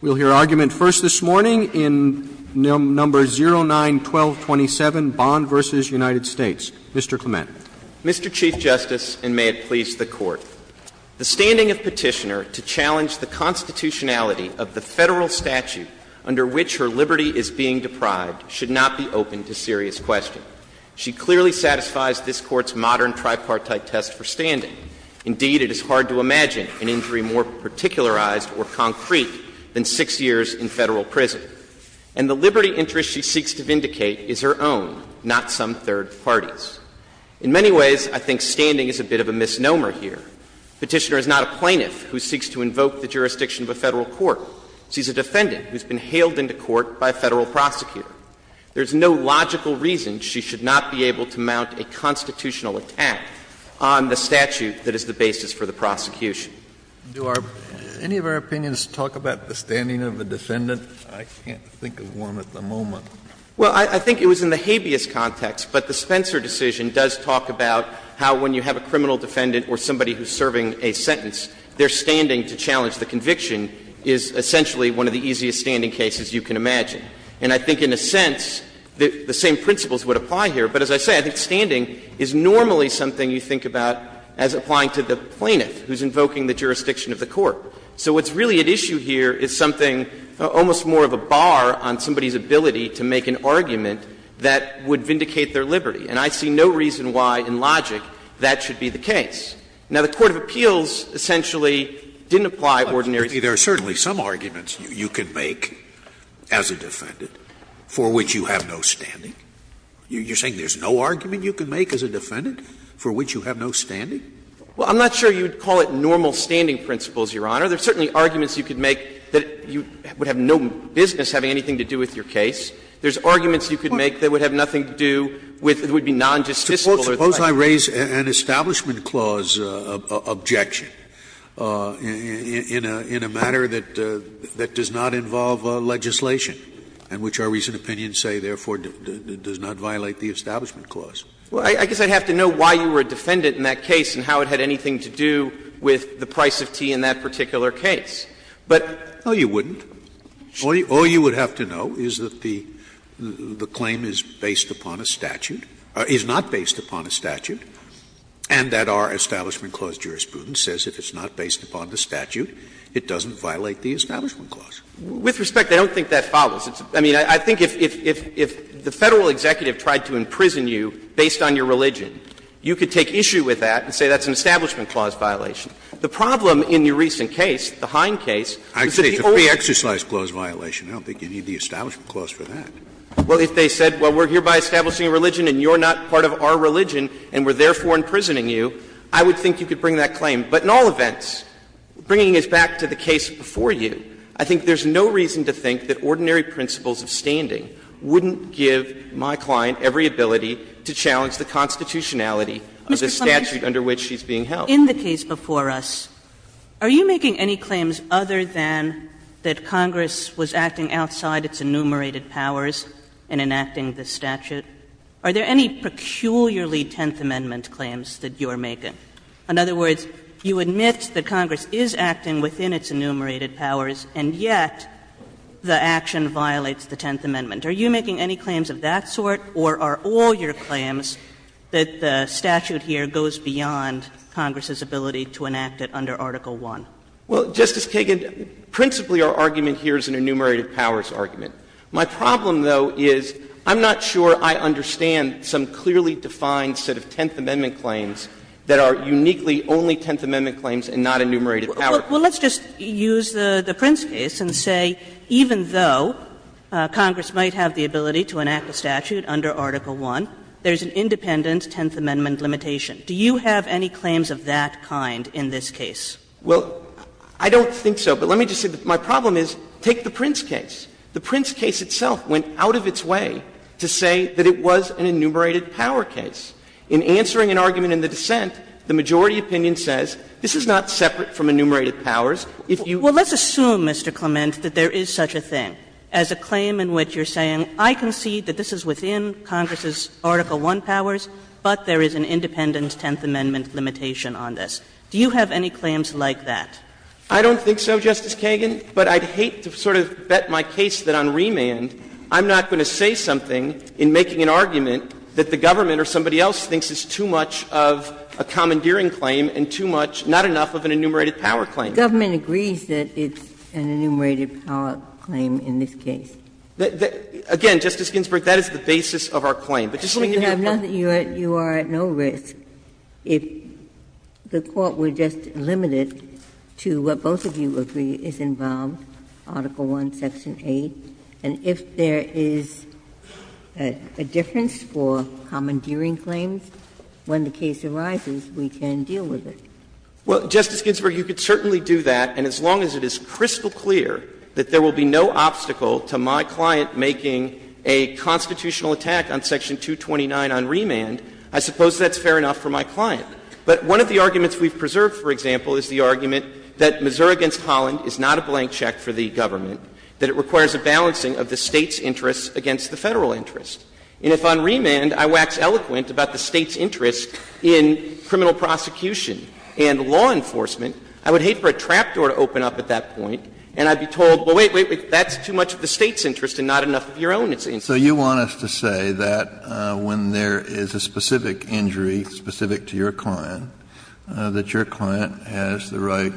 We'll hear argument first this morning in No. 09-1227, Bond v. United States. Mr. Clement. Mr. Chief Justice, and may it please the Court, the standing of Petitioner to challenge the constitutionality of the Federal statute under which her liberty is being deprived should not be open to serious question. She clearly satisfies this Court's modern tripartite test for standing. Indeed, it is hard to imagine an injury more particularized or concrete than six years in Federal prison. And the liberty interest she seeks to vindicate is her own, not some third party's. In many ways, I think standing is a bit of a misnomer here. Petitioner is not a plaintiff who seeks to invoke the jurisdiction of a Federal court. She is a defendant who has been hailed into court by a Federal prosecutor. There is no logical reason she should not be able to mount a constitutional attack on the statute that is the basis for the prosecution. Do our any of our opinions talk about the standing of a defendant? I can't think of one at the moment. Well, I think it was in the habeas context. But the Spencer decision does talk about how when you have a criminal defendant or somebody who is serving a sentence, their standing to challenge the conviction is essentially one of the easiest standing cases you can imagine. And I think in a sense, the same principles would apply here. But as I say, I think standing is normally something you think about as applying to the plaintiff who is invoking the jurisdiction of the court. So what's really at issue here is something, almost more of a bar on somebody's ability to make an argument that would vindicate their liberty. And I see no reason why in logic that should be the case. Now, the court of appeals essentially didn't apply ordinary standing. Scalia, there are certainly some arguments you can make as a defendant for which you have no standing. You're saying there's no argument you can make as a defendant for which you have no standing? Well, I'm not sure you would call it normal standing principles, Your Honor. There are certainly arguments you could make that you would have no business having anything to do with your case. There's arguments you could make that would have nothing to do with the non-justiciable or the plaintiff. Suppose I raise an establishment clause objection in a matter that does not involve legislation and which our recent opinions say, therefore, does not violate the establishment clause. Well, I guess I'd have to know why you were a defendant in that case and how it had anything to do with the price of tea in that particular case. But you wouldn't. All you would have to know is that the claim is based upon a statute or is not based upon a statute and that our establishment clause jurisprudence says if it's not based upon the statute, it doesn't violate the establishment clause. With respect, I don't think that follows. I mean, I think if the Federal executive tried to imprison you based on your religion, you could take issue with that and say that's an establishment clause violation. The problem in your recent case, the Hine case, is that the only exercise clause violation, I don't think you need the establishment clause for that. Well, if they said, well, we're hereby establishing a religion and you're not part of our religion and we're therefore imprisoning you, I would think you could bring that claim. But in all events, bringing us back to the case before you, I think there's no reason to think that ordinary principles of standing wouldn't give my client every ability to challenge the constitutionality of the statute under which she's being held. Kagan. In the case before us, are you making any claims other than that Congress was acting outside its enumerated powers in enacting the statute? Are there any peculiarly Tenth Amendment claims that you are making? In other words, you admit that Congress is acting within its enumerated powers, and yet the action violates the Tenth Amendment. Are you making any claims of that sort, or are all your claims that the statute here goes beyond Congress's ability to enact it under Article I? Well, Justice Kagan, principally our argument here is an enumerated powers argument. My problem, though, is I'm not sure I understand some clearly defined set of Tenth Amendment claims that are uniquely only Tenth Amendment claims and not enumerated powers. Well, let's just use the Prince case and say even though Congress might have the ability to enact the statute under Article I, there's an independent Tenth Amendment limitation. Do you have any claims of that kind in this case? Well, I don't think so. But let me just say that my problem is, take the Prince case. The Prince case itself went out of its way to say that it was an enumerated power case. In answering an argument in the dissent, the majority opinion says this is not separate from enumerated powers. If you go back to the Prince case, the majority opinion says this is an enumerated powers case. Well, let's assume, Mr. Clement, that there is such a thing, as a claim in which you're saying I concede that this is within Congress's Article I powers, but there is an independent Tenth Amendment limitation on this. Do you have any claims like that? I don't think so, Justice Kagan, but I'd hate to sort of bet my case that on remand I'm not going to say something in making an argument that the government or somebody else thinks is too much of a commandeering claim and too much, not enough, of an enumerated power claim. The government agrees that it's an enumerated power claim in this case. Again, Justice Ginsburg, that is the basis of our claim. But just let me give you a couple of points. You are at no risk if the Court were just limited to what both of you agree is involved, Article I, Section 8. And if there is a difference for commandeering claims, when the case arises, we can deal with it. Well, Justice Ginsburg, you could certainly do that, and as long as it is crystal clear that there will be no obstacle to my client making a constitutional attack on Section 229 on remand, I suppose that's fair enough for my client. But one of the arguments we've preserved, for example, is the argument that Missouri v. Holland is not a blank check for the government, that it requires a balancing of the State's interest against the Federal interest. And if on remand I wax eloquent about the State's interest in criminal prosecution and law enforcement, I would hate for a trap door to open up at that point, and I'd be told, well, wait, wait, wait, that's too much of the State's interest and not enough of your own interest. Kennedy, So you want us to say that when there is a specific injury, specific to your client, that your client has the right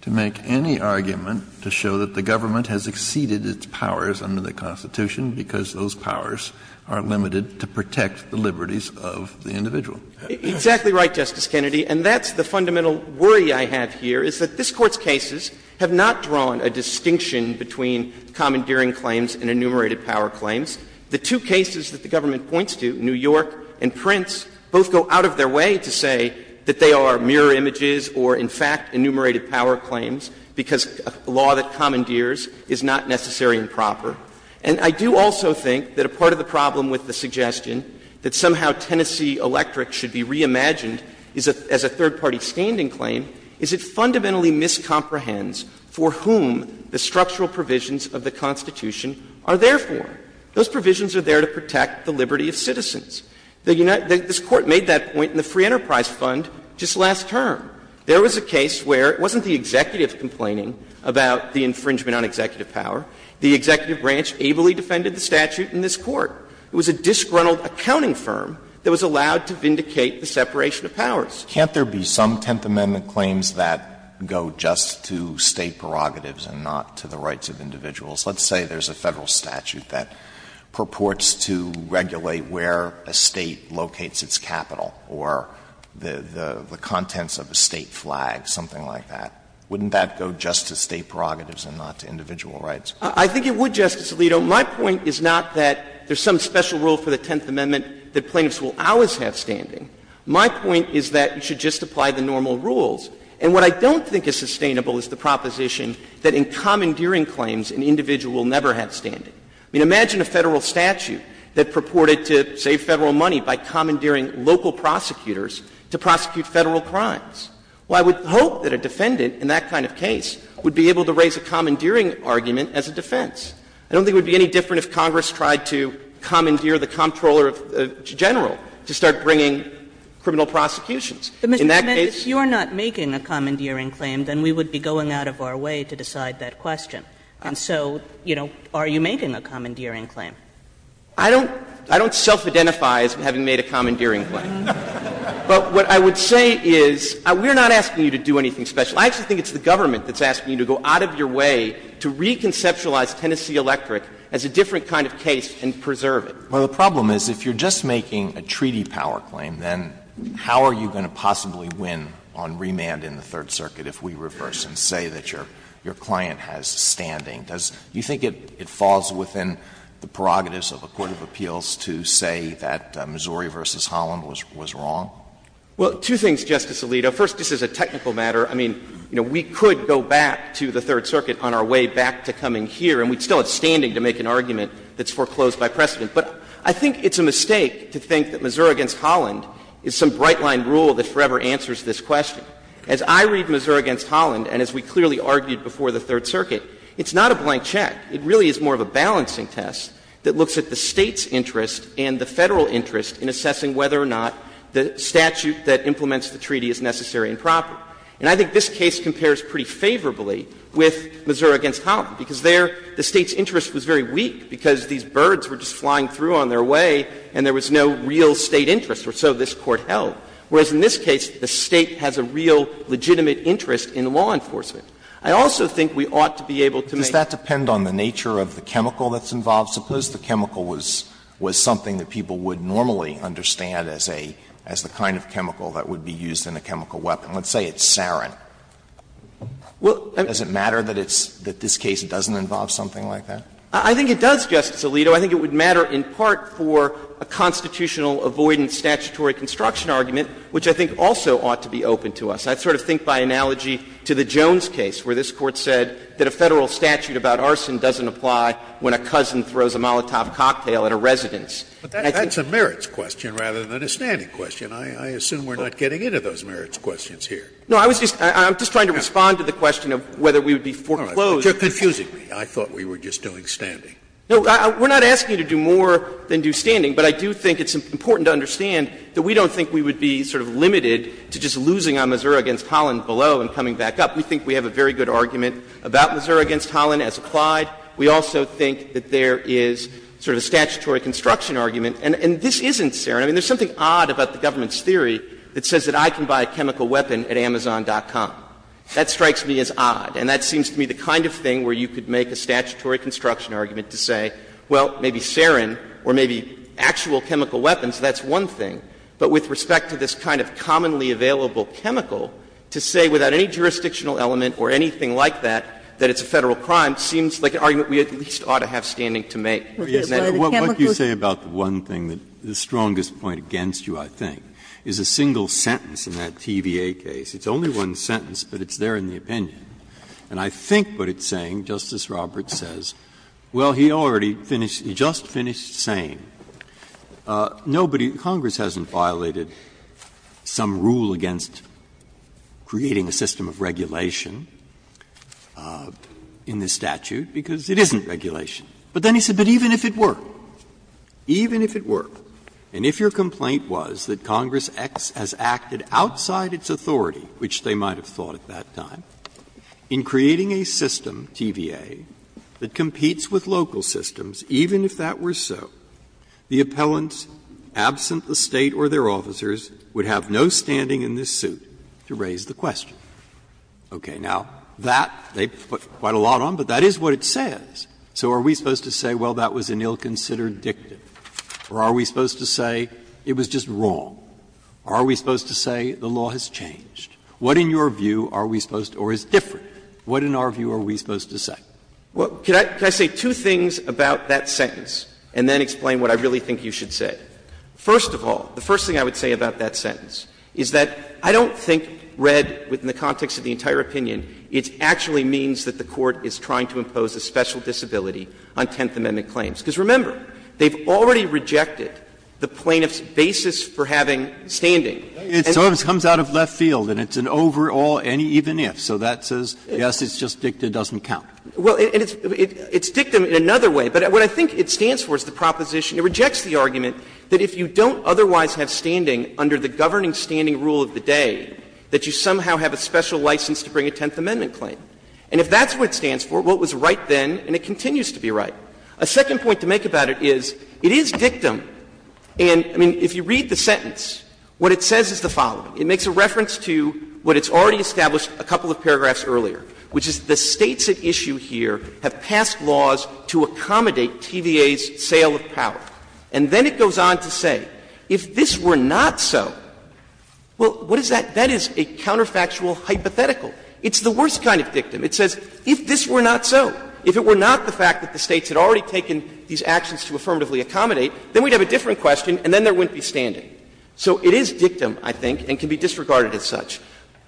to make any argument to show that the government has exceeded its powers under the Constitution, because those powers are limited to protect the liberties of the individual. Exactly right, Justice Kennedy, and that's the fundamental worry I have here, is that this Court's cases have not drawn a distinction between commandeering claims and enumerated power claims. The two cases that the government points to, New York and Prince, both go out of their way to say that they are mirror images or, in fact, enumerated power claims, because a law that commandeers is not necessary and proper. And I do also think that a part of the problem with the suggestion that somehow Tennessee Electric should be reimagined as a third-party standing claim is it fundamentally miscomprehends for whom the structural provisions of the Constitution are therefore. Those provisions are there to protect the liberty of citizens. The United States Court made that point in the Free Enterprise Fund just last term. There was a case where it wasn't the executive complaining about the infringement on executive power. The executive branch ably defended the statute in this Court. It was a disgruntled accounting firm that was allowed to vindicate the separation of powers. Alitos, Can't there be some Tenth Amendment claims that go just to State prerogatives and not to the rights of individuals? Let's say there is a Federal statute that purports to regulate where a State locates its capital or the contents of a State flag, something like that. Wouldn't that go just to State prerogatives and not to individual rights? Clements, I think it would, Justice Alito. My point is not that there is some special rule for the Tenth Amendment that plaintiffs will always have standing. My point is that you should just apply the normal rules. And what I don't think is sustainable is the proposition that in commandeering claims an individual will never have standing. I mean, imagine a Federal statute that purported to save Federal money by commandeering local prosecutors to prosecute Federal crimes. Well, I would hope that a defendant in that kind of case would be able to raise a commandeering argument as a defense. I don't think it would be any different if Congress tried to commandeer the Comptroller General to start bringing criminal prosecutions. In that case you are not making a commandeering claim, then we would be going out of our way to decide that question. And so, you know, are you making a commandeering claim? Clements, I don't self-identify as having made a commandeering claim. But what I would say is we are not asking you to do anything special. I actually think it's the government that's asking you to go out of your way to reconceptualize Tennessee Electric as a different kind of case and preserve it. Alito, well, the problem is if you are just making a treaty power claim, then how are you going to possibly win on remand in the Third Circuit if we reverse and say that your client has standing? Do you think it falls within the prerogatives of a court of appeals to say that Missouri v. Holland was wrong? Well, two things, Justice Alito. First, this is a technical matter. I mean, you know, we could go back to the Third Circuit on our way back to coming here, and we'd still have standing to make an argument that's foreclosed by precedent. But I think it's a mistake to think that Missouri v. Holland is some bright-line rule that forever answers this question. As I read Missouri v. Holland, and as we clearly argued before the Third Circuit, it's not a blank check. It really is more of a balancing test that looks at the State's interest and the Federal interest in assessing whether or not the statute that implements the treaty is necessary and proper. And I think this case compares pretty favorably with Missouri v. Holland, because there the State's interest was very weak because these birds were just flying through on their way and there was no real State interest, or so this Court held, whereas in this case, the State has a real legitimate interest in law enforcement. I also think we ought to be able to make the case that the Federal interest is necessary. Alito, I think it would matter in part for a constitutional avoidance statutory I think also ought to be open to us. I sort of think by analogy to the Jones case, where this Court said that a Federal statute about arson doesn't apply when a cousin throws a Molotov cocktail at a residence. And I think that's a merits question rather than a standing question. I assume we're not getting into those merits questions here. No, I was just trying to respond to the question of whether we would be foreclosed. You're confusing me. I thought we were just doing standing. No, we're not asking you to do more than do standing, but I do think it's important to understand that we don't think we would be sort of limited to just losing on Missouri v. Holland below and coming back up. We think we have a very good argument about Missouri v. Holland as applied. We also think that there is sort of a statutory construction argument, and this isn't sarin. I mean, there's something odd about the government's theory that says that I can buy a chemical weapon at Amazon.com. That strikes me as odd, and that seems to me the kind of thing where you could make a statutory construction argument to say, well, maybe sarin or maybe actual chemical weapons, that's one thing. But with respect to this kind of commonly available chemical, to say without any jurisdictional element or anything like that that it's a Federal crime seems like an argument we at least ought to have standing to make. Breyer, what do you say about the one thing, the strongest point against you, I think, is a single sentence in that TVA case. It's only one sentence, but it's there in the opinion. And I think what it's saying, Justice Roberts says, well, he already finished the case, he just finished saying, nobody, Congress hasn't violated some rule against creating a system of regulation in this statute, because it isn't regulation. But then he said, but even if it were, even if it were, and if your complaint was that Congress X has acted outside its authority, which they might have thought of at that time, in creating a system, TVA, that competes with local systems, even if that were so, the appellants, absent the State or their officers, would have no standing in this suit to raise the question. Okay. Now, that, they put quite a lot on, but that is what it says. So are we supposed to say, well, that was an ill-considered dictum, or are we supposed to say it was just wrong, or are we supposed to say the law has changed? What, in your view, are we supposed to, or is different, what in our view are we supposed to say? Clemente, can I say two things about that sentence, and then explain what I really think you should say? First of all, the first thing I would say about that sentence is that I don't think read within the context of the entire opinion, it actually means that the Court is trying to impose a special disability on Tenth Amendment claims. Because remember, they've already rejected the plaintiff's basis for having standing. Breyer. It sort of comes out of left field, and it's an overall any, even if. So that says, yes, it's just dictum, it doesn't count. Well, and it's dictum in another way, but what I think it stands for is the proposition to reject the argument that if you don't otherwise have standing under the governing standing rule of the day, that you somehow have a special license to bring a Tenth Amendment claim. And if that's what it stands for, well, it was right then and it continues to be right. A second point to make about it is, it is dictum, and, I mean, if you read the sentence, what it says is the following. It makes a reference to what it's already established a couple of paragraphs earlier, which is the States at issue here have passed laws to accommodate TVA's sale of power. And then it goes on to say, if this were not so, well, what is that? That is a counterfactual hypothetical. It's the worst kind of dictum. It says, if this were not so, if it were not the fact that the States had already taken these actions to affirmatively accommodate, then we'd have a different question and then there wouldn't be standing. So it is dictum, I think, and can be disregarded as such.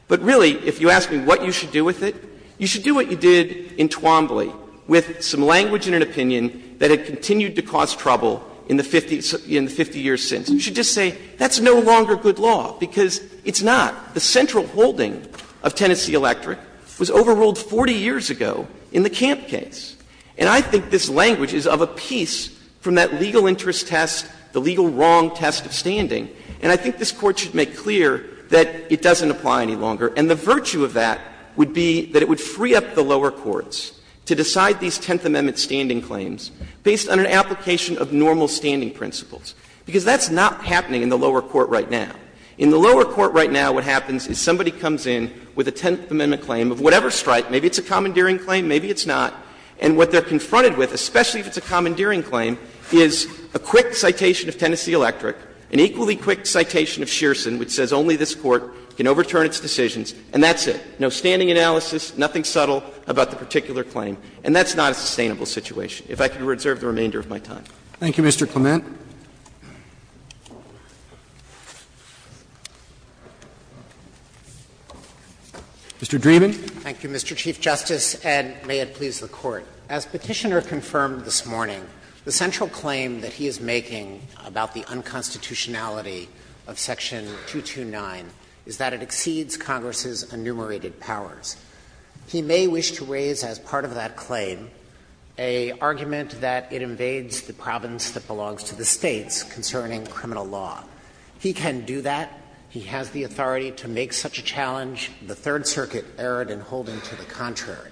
But really, if you ask me what you should do with it, you should do what you did in Twombly with some language and an opinion that had continued to cause trouble in the 50 years since. You should just say that's no longer good law, because it's not. The central holding of Tennessee Electric was overruled 40 years ago in the Camp case. And I think this language is of a piece from that legal interest test, the legal wrong test of standing. And I think this Court should make clear that it doesn't apply any longer. And the virtue of that would be that it would free up the lower courts to decide these Tenth Amendment standing claims based on an application of normal standing principles. Because that's not happening in the lower court right now. In the lower court right now, what happens is somebody comes in with a Tenth Amendment claim of whatever stripe. Maybe it's a commandeering claim, maybe it's not. And what they're confronted with, especially if it's a commandeering claim, is a quick citation of Tennessee Electric, an equally quick citation of Shearson, which says only this Court can overturn its decisions, and that's it. No standing analysis, nothing subtle about the particular claim. And that's not a sustainable situation, if I can reserve the remainder of my time. Roberts. Thank you, Mr. Clement. Mr. Dreeben. Thank you, Mr. Chief Justice, and may it please the Court. As Petitioner confirmed this morning, the central claim that he is making about the unconstitutionality of Section 229 is that it exceeds Congress's enumerated powers. He may wish to raise as part of that claim a argument that it invades the province that belongs to the States concerning criminal law. He can do that. He has the authority to make such a challenge. The Third Circuit erred in holding to the contrary.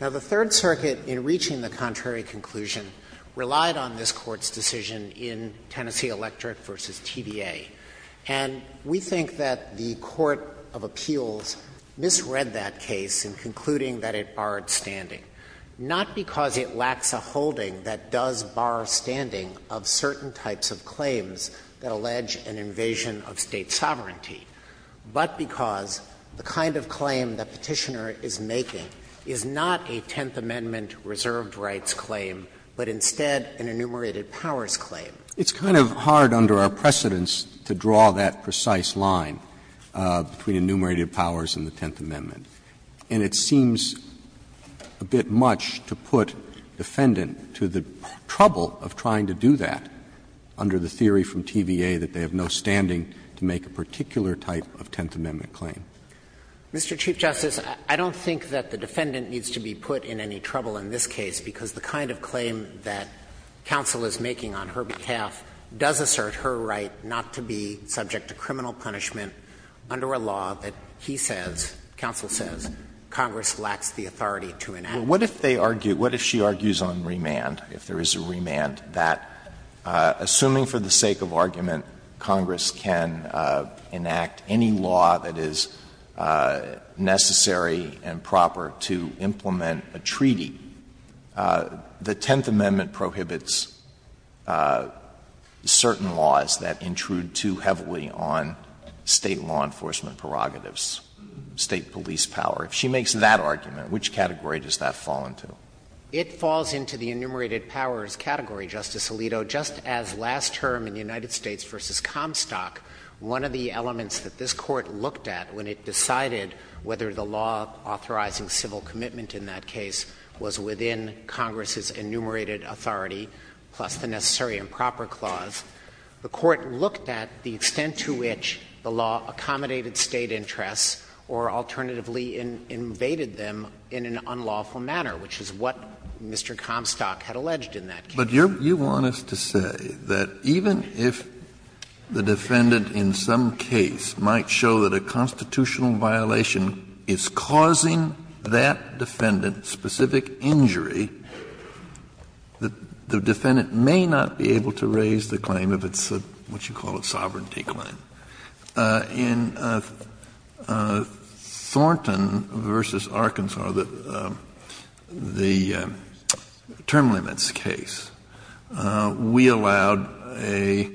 Now, the Third Circuit, in reaching the contrary conclusion, relied on this Court's decision in Tennessee Electric v. TVA, and we think that the court of appeals misread that case in concluding that it barred standing, not because it lacks a holding that does bar standing of certain types of claims that allege an invasion of State sovereignty, but because the kind of claim that Petitioner is making is a claim that is not a Tenth Amendment reserved rights claim, but instead an enumerated powers claim. It's kind of hard under our precedence to draw that precise line between enumerated powers and the Tenth Amendment, and it seems a bit much to put defendant to the trouble of trying to do that under the theory from TVA that they have no standing to make a particular type of Tenth Amendment claim. Mr. Chief Justice, I don't think that the defendant needs to be put in any trouble in this case, because the kind of claim that counsel is making on her behalf does assert her right not to be subject to criminal punishment under a law that he says, counsel says, Congress lacks the authority to enact. What if they argue, what if she argues on remand, if there is a remand, that, assuming for the sake of argument, Congress can enact any law that is necessary and proper to implement a treaty, the Tenth Amendment prohibits certain laws that intrude too heavily on State law enforcement prerogatives, State police power. If she makes that argument, which category does that fall into? It falls into the enumerated powers category, Justice Alito, just as last term in the United States v. Comstock, one of the elements that this Court looked at when it decided whether the law authorizing civil commitment in that case was within Congress's enumerated authority plus the necessary and proper clause, the Court looked at the extent to which the law accommodated State interests or alternatively invaded them in an unlawful manner, which is what Mr. Comstock had alleged in that case. Kennedy, you want us to say that even if the defendant in some case might show that a constitutional violation is causing that defendant specific injury, the defendant may not be able to raise the claim if it's a, what you call it, sovereignty claim. In Thornton v. Arkansas, the term limits case, we allowed a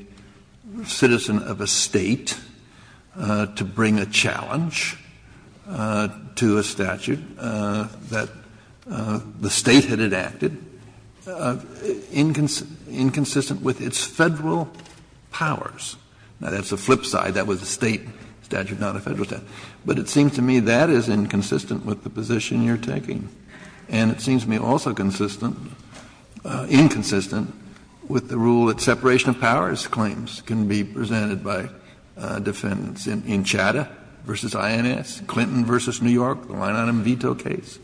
citizen of a State to bring a challenge to a statute that the State had enacted inconsistent with its Federal powers. Now, that's the flip side. That was a State statute, not a Federal statute. But it seems to me that is inconsistent with the position you're taking. And it seems to me also consistent, inconsistent with the rule that separation of powers claims can be presented by defendants in Chadha v. INS, Clinton v. New York, the line-item veto case.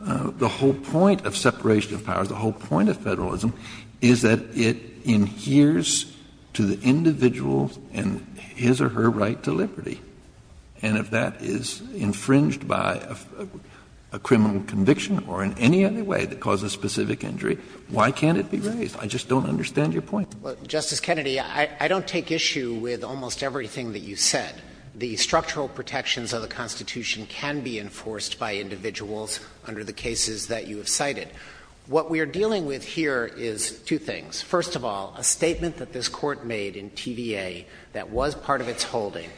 The whole point of separation of powers, the whole point of Federalism, is that it adheres to the individual's and his or her right to liberty. And if that is infringed by a criminal conviction or in any other way that causes a specific injury, why can't it be raised? I just don't understand your point. Dreeben, Justice Kennedy, I don't take issue with almost everything that you said. The structural protections of the Constitution can be enforced by individuals under the cases that you have cited. What we are dealing with here is two things. First of all, a statement that this Court made in TVA that was part of its holding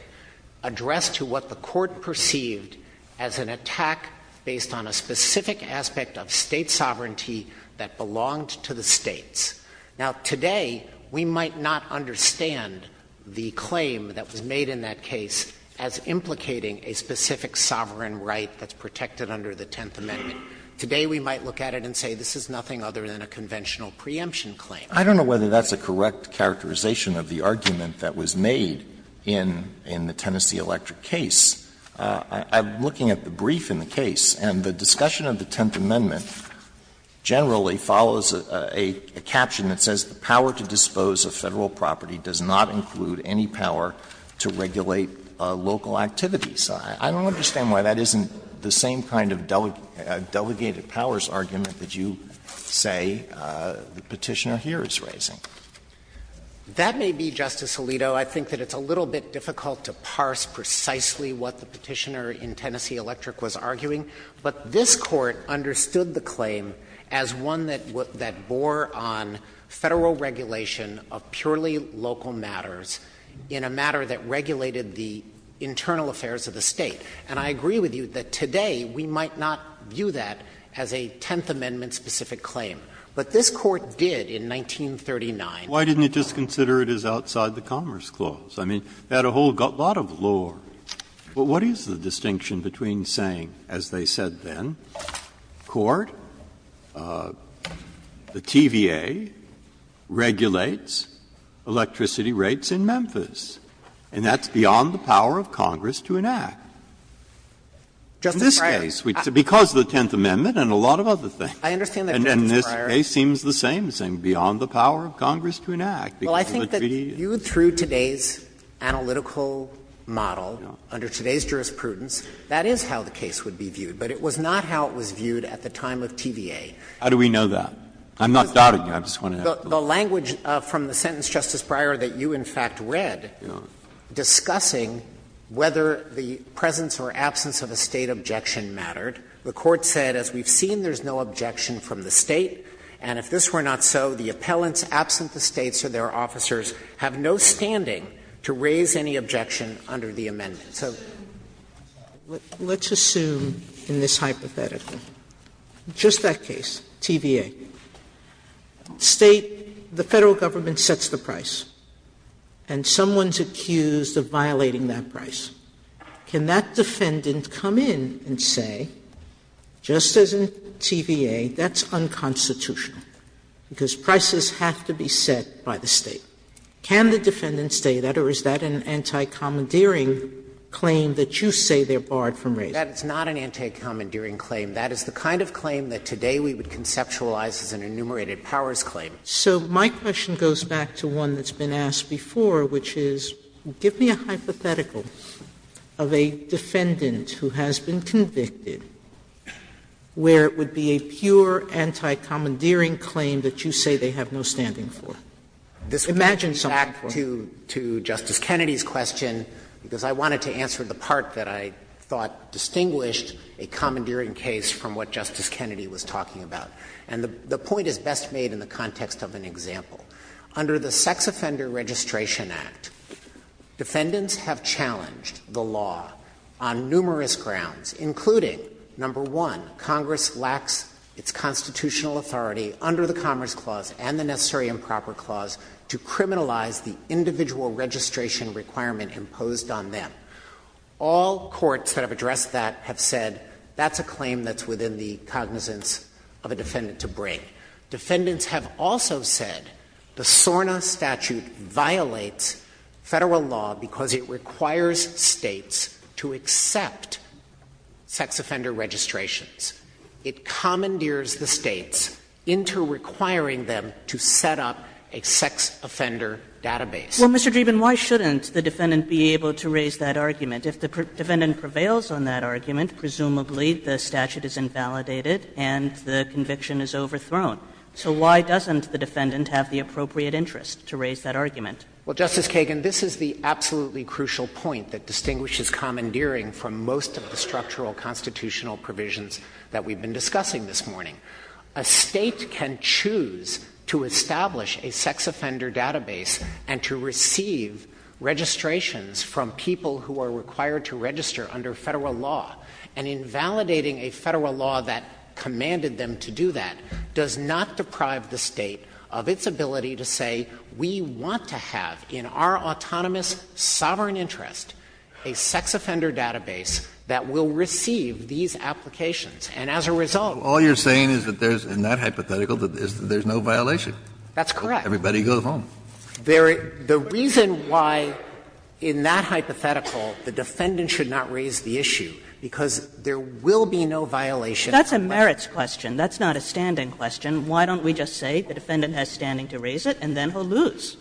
addressed to what the Court perceived as an attack based on a specific aspect of State sovereignty that belonged to the States. Now, today, we might not understand the claim that was made in that case as implicating a specific sovereign right that's protected under the Tenth Amendment. Today, we might look at it and say this is nothing other than a conventional preemption claim. I don't know whether that's a correct characterization of the argument that was made in the Tennessee electric case. I'm looking at the brief in the case, and the discussion of the Tenth Amendment generally follows a caption that says, ''The power to dispose of Federal property does not include any power to regulate local activities.'' I don't understand why that isn't the same kind of delegated powers argument that you say the Petitioner here is raising. Dreeben, that may be, Justice Alito, I think that it's a little bit difficult to parse precisely what the Petitioner in Tennessee Electric was arguing, but this Court understood the claim as one that bore on Federal regulation of purely local matters in a matter that regulated the internal affairs of the State. And I agree with you that today we might not view that as a Tenth Amendment specific claim. But this Court did in 1939. Breyer, why didn't it just consider it as outside the Commerce Clause? I mean, it had a whole lot of lore. But what is the distinction between saying, as they said then, Court, the TVA regulates electricity rates in Memphis, and that's beyond the power of Congress to enact? In this case, because of the Tenth Amendment and a lot of other things. And in this case, it seems the same, beyond the power of Congress to enact. Dreeben, I think that viewed through today's analytical model, under today's jurisprudence, that is how the case would be viewed. But it was not how it was viewed at the time of TVA. Breyer, how do we know that? I'm not doubting you, I'm just wondering. Dreeben, the language from the sentence, Justice Breyer, that you, in fact, read, discussing whether the presence or absence of a State objection mattered, the Court said, as we've seen, there's no objection from the State, and if this were not so, the appellants absent the States or their officers have no standing to raise any objection under the amendment. Sotomayor, let's assume in this hypothetical, just that case, TVA, State, the Federal Government sets the price, and someone's accused of violating that price. Can that defendant come in and say, just as in TVA, that's unconstitutional, because prices have to be set by the State? Can the defendant say that, or is that an anti-commandeering claim that you say they're barred from raising? That is not an anti-commandeering claim. That is the kind of claim that today we would conceptualize as an enumerated powers claim. Sotomayor, so my question goes back to one that's been asked before, which is, give me a hypothetical of a defendant who has been convicted where it would be a pure anti-commandeering claim that you say they have no standing for. Imagine something for me. Dreeben, back to Justice Kennedy's question, because I wanted to answer the part that I thought distinguished a commandeering case from what Justice Kennedy was talking about. And the point is best made in the context of an example. Under the Sex Offender Registration Act, defendants have challenged the law on numerous grounds, including, number one, Congress lacks its constitutional authority under the Commerce Clause and the Necessary and Proper Clause to criminalize the individual registration requirement imposed on them. All courts that have addressed that have said that's a claim that's within the cognizance of a defendant to bring. Defendants have also said the SORNA statute violates Federal law because it requires States to accept sex offender registrations. It commandeers the States into requiring them to set up a sex offender database. Well, Mr. Dreeben, why shouldn't the defendant be able to raise that argument? If the defendant prevails on that argument, presumably the statute is invalidated and the conviction is overthrown. So why doesn't the defendant have the appropriate interest to raise that argument? Well, Justice Kagan, this is the absolutely crucial point that distinguishes commandeering from most of the structural constitutional provisions that we've been discussing this morning. A State can choose to establish a sex offender database and to receive registrations from people who are required to register under Federal law. And invalidating a Federal law that commanded them to do that does not deprive the State of its ability to say we want to have in our autonomous, sovereign interest a sex offender database that will receive these applications. And as a result, we can't do that. All you're saying is that there's, in that hypothetical, is that there's no violation. That's correct. Everybody goes home. The reason why in that hypothetical the defendant should not raise the issue, because there will be no violation. That's a merits question. That's not a standing question. Why don't we just say the defendant has standing to raise it, and then he'll lose?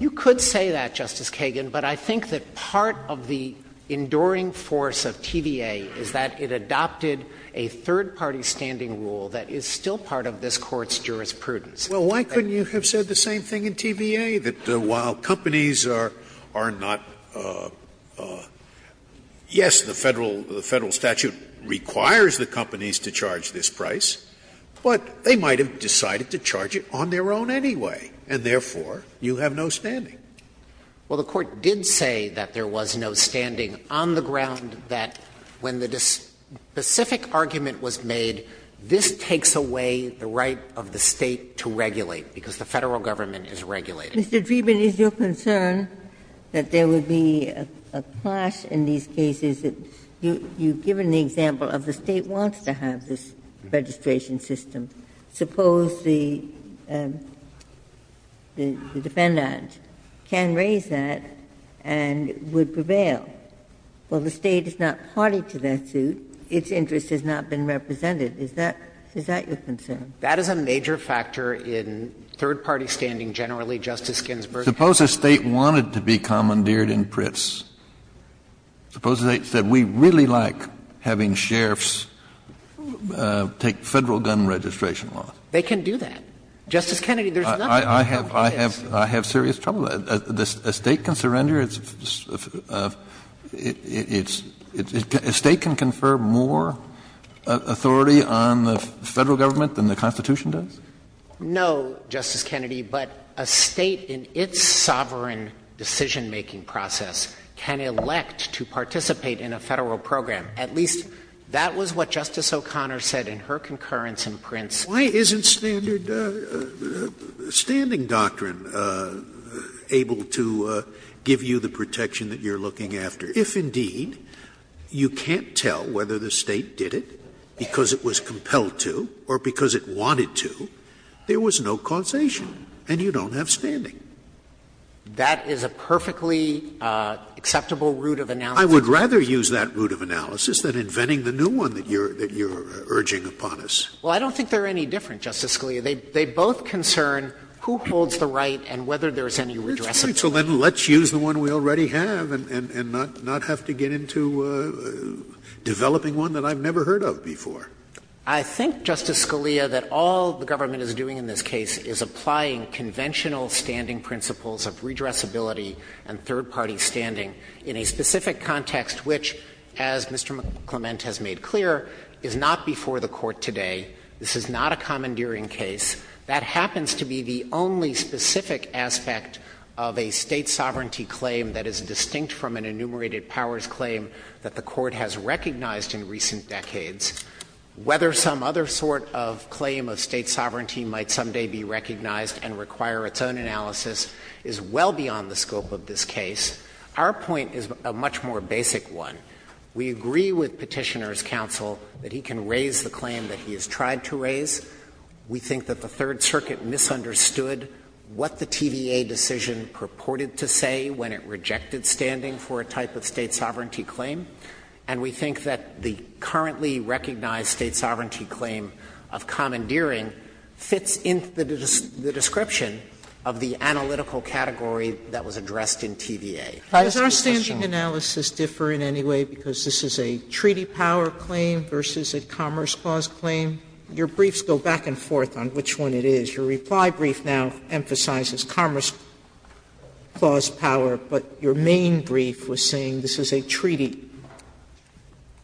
You could say that, Justice Kagan, but I think that part of the enduring force of TVA is that it adopted a third-party standing rule that is still part of this Court's jurisprudence. Well, why couldn't you have said the same thing in TVA, that while companies are not, yes, the Federal statute requires the companies to charge this price, but they might have decided to charge it on their own anyway, and therefore, you have no standing? Well, the Court did say that there was no standing on the ground that when the specific argument was made, this takes away the right of the State to regulate, because the Federal government is regulating. Ginsburg-McGillivray Mr. Dreeben, is your concern that there would be a clash in these cases that, you've given the example of the State wants to have this registration system. Suppose the defendant can raise that and would prevail. Well, the State is not party to that suit. Its interest has not been represented. Is that your concern? That is a major factor in third-party standing generally, Justice Ginsburg. Kennedy Suppose the State wanted to be commandeered in Pritz. Suppose the State said, we really like having sheriffs take Federal gun registration laws. They can do that. Justice Kennedy, there's nothing to help with this. Kennedy I have serious trouble. A State can surrender its – a State can confer more authority on the Federal government than the Constitution does? Dreeben No, Justice Kennedy, but a State in its sovereign decision-making process can elect to participate in a Federal program. At least that was what Justice O'Connor said in her concurrence in Pritz. Scalia Why isn't standard – standing doctrine able to give you the protection that you're looking after? If indeed you can't tell whether the State did it because it was compelled to or because it wanted to, there was no causation, and you don't have standing. Dreeben That is a perfectly acceptable route of analysis. Scalia I would rather use that route of analysis than inventing the new one that you're urging upon us. Dreeben Well, I don't think they're any different, Justice Scalia. They both concern who holds the right and whether there's any redressal. All right. So then let's use the one we already have and not have to get into developing one that I've never heard of before. Dreeben I think, Justice Scalia, that all the government is doing in this case is applying conventional standing principles of redressability and third-party standing in a specific context which, as Mr. Clement has made clear, is not before the Court today. This is not a commandeering case. That happens to be the only specific aspect of a State sovereignty claim that is distinct from an enumerated powers claim that the Court has recognized in recent decades. Whether some other sort of claim of State sovereignty might someday be recognized and require its own analysis is well beyond the scope of this case. Our point is a much more basic one. We agree with Petitioner's counsel that he can raise the claim that he has tried to raise. We think that the Third Circuit misunderstood what the TVA decision purported to say when it rejected standing for a type of State sovereignty claim. And we think that the currently recognized State sovereignty claim of commandeering fits into the description of the analytical category that was addressed in TVA. Sotomayor Does our standing analysis differ in any way because this is a treaty power claim versus a commerce clause claim? Your briefs go back and forth on which one it is. Your reply brief now emphasizes commerce clause power, but your main brief was saying this is a treaty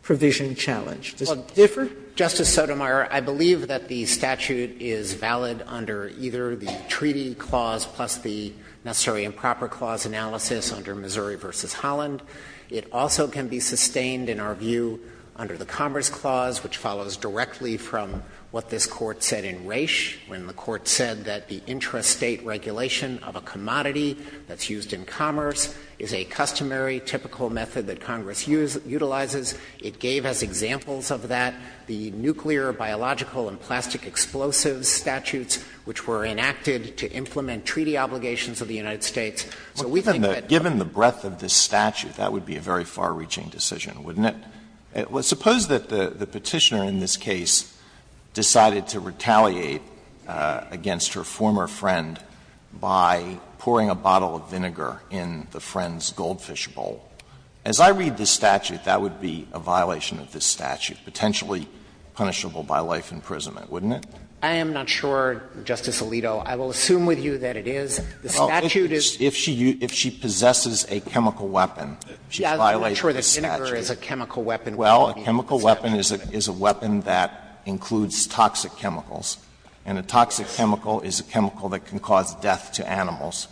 provision challenge. Does it differ? Dreeben Justice Sotomayor, I believe that the statute is valid under either the treaty clause plus the necessary improper clause analysis under Missouri v. Holland. It also can be sustained, in our view, under the commerce clause, which follows directly from what this Court said in Resch, when the Court said that the intrastate regulation of a commodity that's used in commerce is a customary, typical method that Congress utilizes. It gave us examples of that, the nuclear, biological, and plastic explosives statutes, which were enacted to implement treaty obligations of the United States. So we think that Alito Given the breadth of this statute, that would be a very far-reaching decision, wouldn't it? Suppose that the Petitioner in this case decided to retaliate against her former friend by pouring a bottle of vinegar in the friend's goldfish bowl. As I read this statute, that would be a violation of this statute, potentially punishable by life imprisonment, wouldn't it? Dreeben I am not sure, Justice Alito. I will assume with you that it is. The statute is Alito If she possesses a chemical weapon, she violates the statute. Dreeben Well, a chemical weapon is a weapon that includes toxic chemicals, and a toxic chemical is a chemical that can cause death to animals.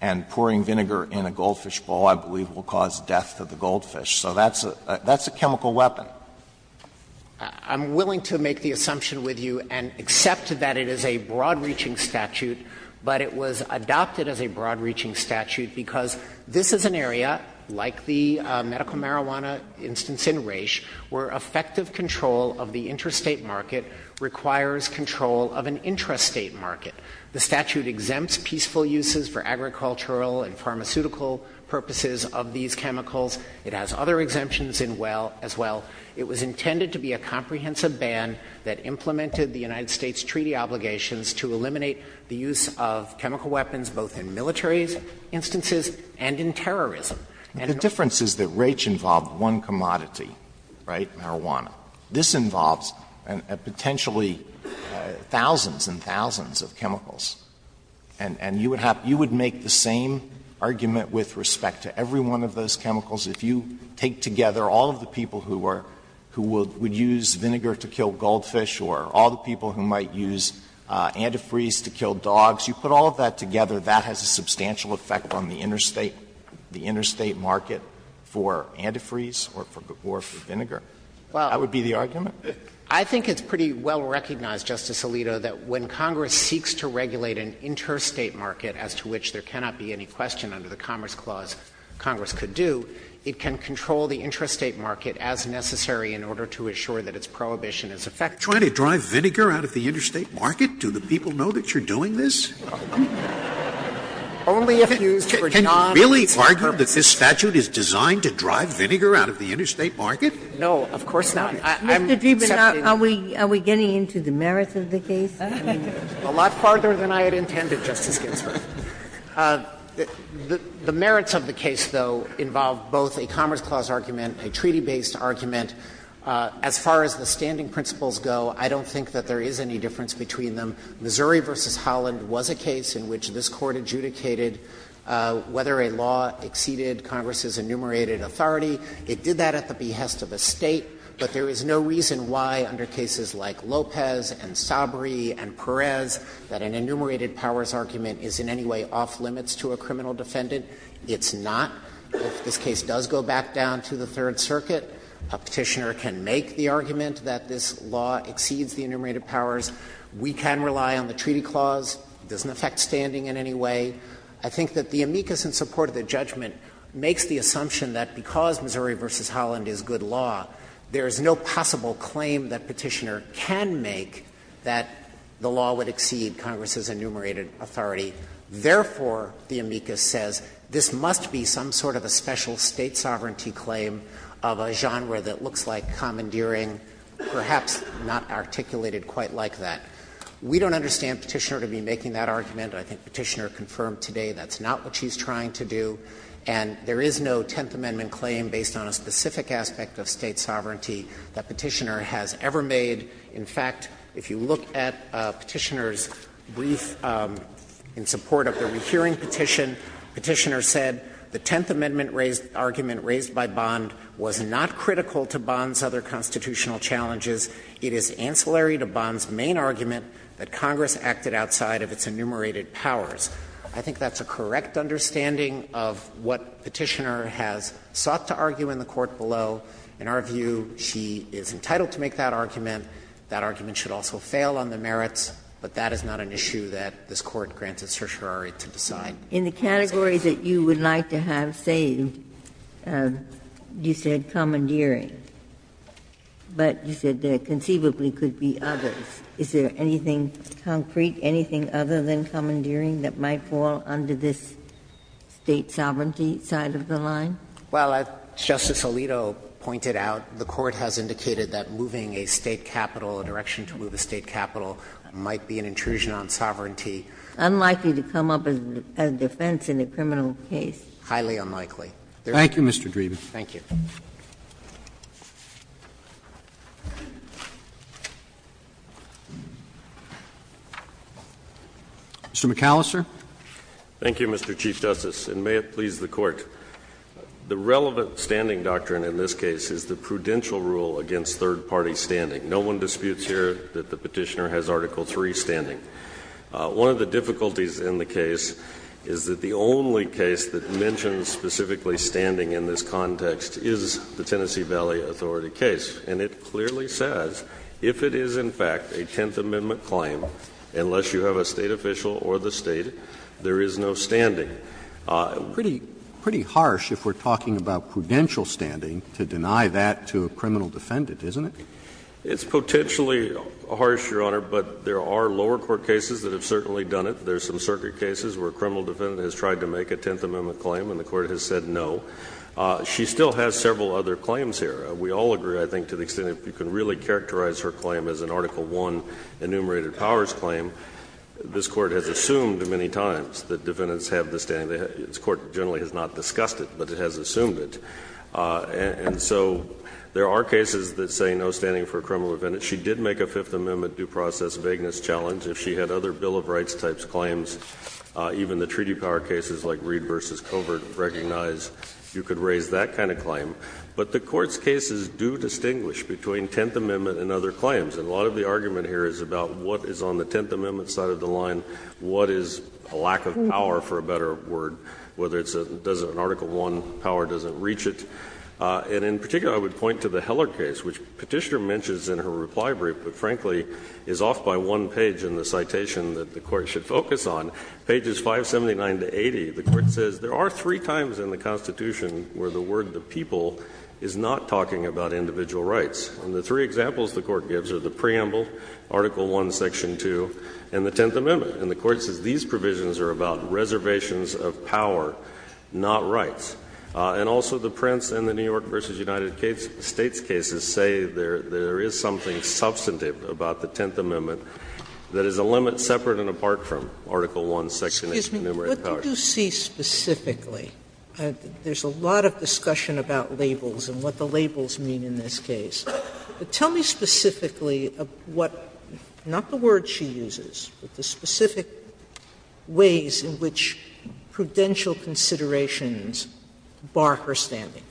And pouring vinegar in a goldfish bowl, I believe, will cause death to the goldfish. So that's a chemical weapon. Dreeben I'm willing to make the assumption with you and accept that it is a broad-reaching statute, but it was adopted as a broad-reaching statute because this is an area, like the medical marijuana instance in Raich, where effective control of the interstate market requires control of an intrastate market. The statute exempts peaceful uses for agricultural and pharmaceutical purposes of these chemicals. It has other exemptions as well. It was intended to be a comprehensive ban that implemented the United States treaty obligations to eliminate the use of chemical weapons both in military instances and in terrorism. And the difference is that Raich involved one commodity, right, marijuana. This involves potentially thousands and thousands of chemicals. And you would have to make the same argument with respect to every one of those chemicals. If you take together all of the people who are who would use vinegar to kill goldfish or all the people who might use antifreeze to kill dogs, you put all of that together, that has a substantial effect on the interstate market for antifreeze or for vinegar. That would be the argument? Dreeben. I think it's pretty well recognized, Justice Alito, that when Congress seeks to regulate an interstate market, as to which there cannot be any question under the Commerce Clause Congress could do, it can control the intrastate market as necessary in order to assure that its prohibition is effective. Scalia. Trying to drive vinegar out of the interstate market? Do the people know that you're doing this? Only if used for non-experts. Can you really argue that this statute is designed to drive vinegar out of the interstate market? No, of course not. I'm accepting it. Mr. Dreeben, are we getting into the merits of the case? A lot harder than I had intended, Justice Ginsburg. The merits of the case, though, involve both a Commerce Clause argument, a treaty-based argument. As far as the standing principles go, I don't think that there is any difference between them. Missouri v. Holland was a case in which this Court adjudicated whether a law exceeded Congress's enumerated authority. It did that at the behest of a State, but there is no reason why under cases like Lopez and Sabri and Perez that an enumerated powers argument is in any way off-limits to a criminal defendant. It's not. If this case does go back down to the Third Circuit, a Petitioner can make the argument that this law exceeds the enumerated powers. We can rely on the Treaty Clause. It doesn't affect standing in any way. I think that the amicus in support of the judgment makes the assumption that because Missouri v. Holland is good law, there is no possible claim that Petitioner can make that the law would exceed Congress's enumerated authority. Therefore, the amicus says this must be some sort of a special State sovereignty claim of a genre that looks like commandeering, perhaps not articulated quite like that. We don't understand Petitioner to be making that argument. I think Petitioner confirmed today that's not what she's trying to do. And there is no Tenth Amendment claim based on a specific aspect of State sovereignty that Petitioner has ever made. In fact, if you look at Petitioner's brief in support of the rehearing petition, Petitioner said the Tenth Amendment argument raised by Bond was not critical to Bond's other constitutional challenges. It is ancillary to Bond's main argument that Congress acted outside of its enumerated powers. I think that's a correct understanding of what Petitioner has sought to argue in the court below. In our view, she is entitled to make that argument. That argument should also fail on the merits, but that is not an issue that this Court grants a certiorari to decide. Ginsburg. In the category that you would like to have saved, you said commandeering. But you said there conceivably could be others. Is there anything concrete, anything other than commandeering that might fall under this State sovereignty side of the line? Well, as Justice Alito pointed out, the Court has indicated that moving a State capital, a direction to move a State capital, might be an intrusion on sovereignty. Unlikely to come up as defense in a criminal case. Highly unlikely. Thank you, Mr. Dreeben. Thank you. Mr. McAllister. Thank you, Mr. Chief Justice, and may it please the Court. The relevant standing doctrine in this case is the prudential rule against third party standing. No one disputes here that the Petitioner has Article III standing. One of the difficulties in the case is that the only case that mentions specifically standing in this context is the Tennessee Valley Authority case. And it clearly says if it is, in fact, a Tenth Amendment claim, unless you have a State official or the State, there is no standing. Pretty harsh if we're talking about prudential standing to deny that to a criminal defendant, isn't it? It's potentially harsh, Your Honor, but there are lower court cases that have certainly done it. There's some circuit cases where a criminal defendant has tried to make a Tenth Amendment claim and the Court has said no. She still has several other claims here. We all agree, I think, to the extent if you can really characterize her claim as an Article I enumerated powers claim, this Court has assumed many times that defendants have the standing. This Court generally has not discussed it, but it has assumed it. And so there are cases that say no standing for a criminal defendant. She did make a Fifth Amendment due process vagueness challenge. If she had other Bill of Rights types claims, even the treaty power cases like Reed v. Covert recognize you could raise that kind of claim. But the Court's cases do distinguish between Tenth Amendment and other claims. And a lot of the argument here is about what is on the Tenth Amendment side of the line, what is a lack of power, for a better word. Whether it's a – does an Article I power doesn't reach it. And in particular, I would point to the Heller case, which Petitioner mentions in her reply brief, but frankly is off by one page in the citation that the Court should focus on. Pages 579 to 80, the Court says there are three times in the Constitution where the word the people is not talking about individual rights. And the three examples the Court gives are the preamble, Article I, Section 2, and the Tenth Amendment. And the Court says these provisions are about reservations of power, not rights. And also the Prince and the New York v. United States cases say there is something substantive about the Tenth Amendment that is a limit separate and apart from Article I, Section 8, enumerated powers. Sotomayor, what do you see specifically? There's a lot of discussion about labels and what the labels mean in this case. But tell me specifically what – not the word she uses, but the specific ways in which prudential considerations bar her standing,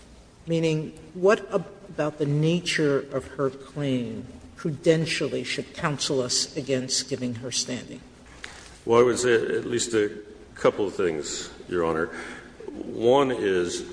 meaning what about the nature of her claim prudentially should counsel us against giving her standing? Well, I would say at least a couple of things, Your Honor. One is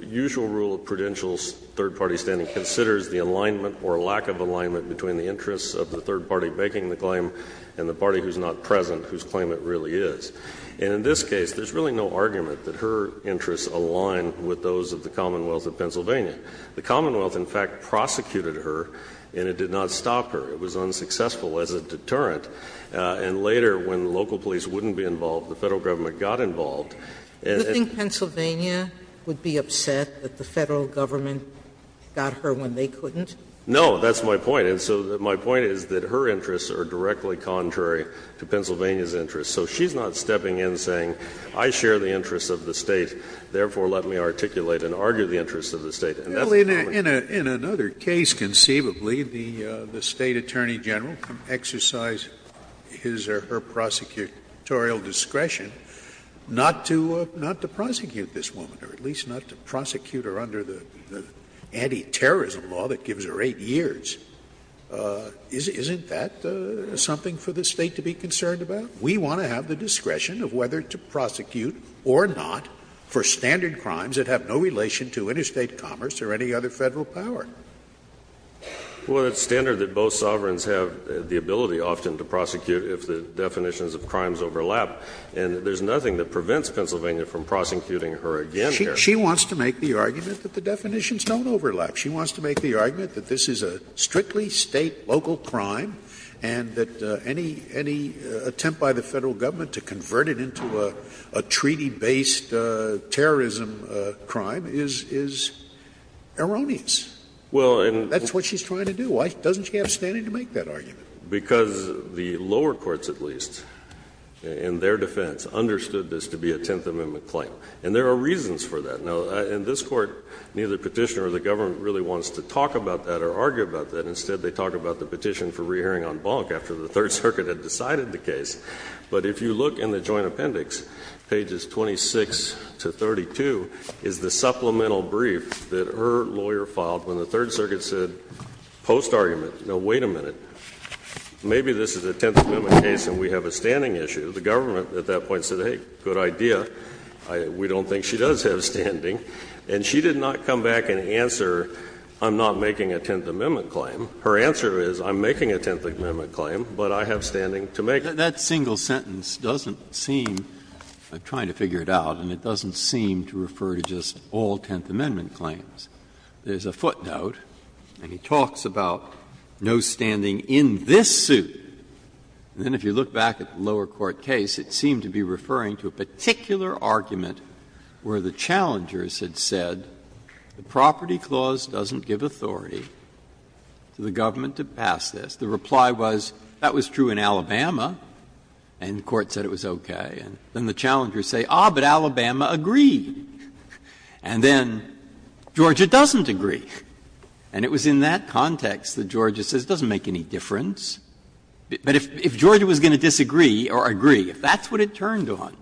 usual rule of prudential third-party standing considers the alignment or lack of alignment between the interests of the third party making the claim and the party who is not present, whose claim it really is. And in this case, there is really no argument that her interests align with those of the Commonwealth of Pennsylvania. The Commonwealth, in fact, prosecuted her and it did not stop her. It was unsuccessful as a deterrent. And later, when local police wouldn't be involved, the Federal Government got involved in that. Do you think Pennsylvania would be upset that the Federal Government got her when they couldn't? No, that's my point. And so my point is that her interests are directly contrary to Pennsylvania's interests. So she's not stepping in saying, I share the interests of the State, therefore let me articulate and argue the interests of the State. In another case, conceivably, the State Attorney General exercised his or her prosecutorial discretion not to prosecute this woman, or at least not to prosecute her under the anti-terrorism law that gives her 8 years. Isn't that something for the State to be concerned about? We want to have the discretion of whether to prosecute or not for standard crimes that have no relation to interstate commerce or any other Federal power. Well, it's standard that both sovereigns have the ability often to prosecute if the definitions of crimes overlap, and there's nothing that prevents Pennsylvania from prosecuting her again here. She wants to make the argument that the definitions don't overlap. She wants to make the argument that this is a strictly State local crime and that any attempt by the Federal Government to convert it into a treaty-based terrorism crime is erroneous. Well, and that's what she's trying to do. Why doesn't she have standing to make that argument? Because the lower courts at least, in their defense, understood this to be a Tenth Amendment claim, and there are reasons for that. Now, in this Court, neither Petitioner or the Government really wants to talk about that or argue about that. Instead, they talk about the petition for re-hearing on Bonk after the Third Circuit had decided the case. But if you look in the Joint Appendix, pages 26 to 32, is the supplemental brief that her lawyer filed when the Third Circuit said, post-argument, no, wait a minute, maybe this is a Tenth Amendment case and we have a standing issue. The Government at that point said, hey, good idea. We don't think she does have standing. And she did not come back and answer, I'm not making a Tenth Amendment claim. Her answer is, I'm making a Tenth Amendment claim, but I have standing to make it. That single sentence doesn't seem, I'm trying to figure it out, and it doesn't seem to refer to just all Tenth Amendment claims. There's a footnote, and he talks about no standing in this suit, and then if you look back at the lower court case, it seemed to be referring to a particular argument where the challengers had said the property clause doesn't give authority to the Government to pass this. The reply was, that was true in Alabama, and the Court said it was okay. And then the challengers say, ah, but Alabama agreed. And then Georgia doesn't agree. And it was in that context that Georgia says, it doesn't make any difference. But if Georgia was going to disagree or agree, if that's what it turned on,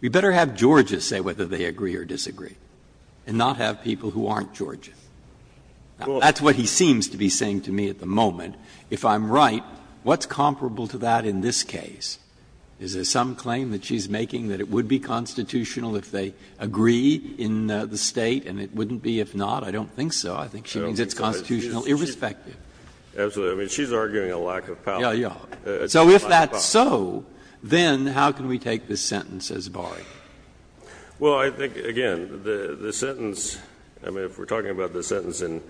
we better have Georgia say whether they agree or disagree and not have people who aren't Georgia. Now, that's what he seems to be saying to me at the moment. If I'm right, what's comparable to that in this case? Is there some claim that she's making that it would be constitutional if they agree in the State and it wouldn't be if not? I don't think so. I think she means it's constitutional irrespective. McAllister, I mean, she's arguing a lack of power. Breyer, so if that's so, then how can we take this sentence as barring? McAllister, well, I think, again, the sentence, I mean, if we're talking about the sentence in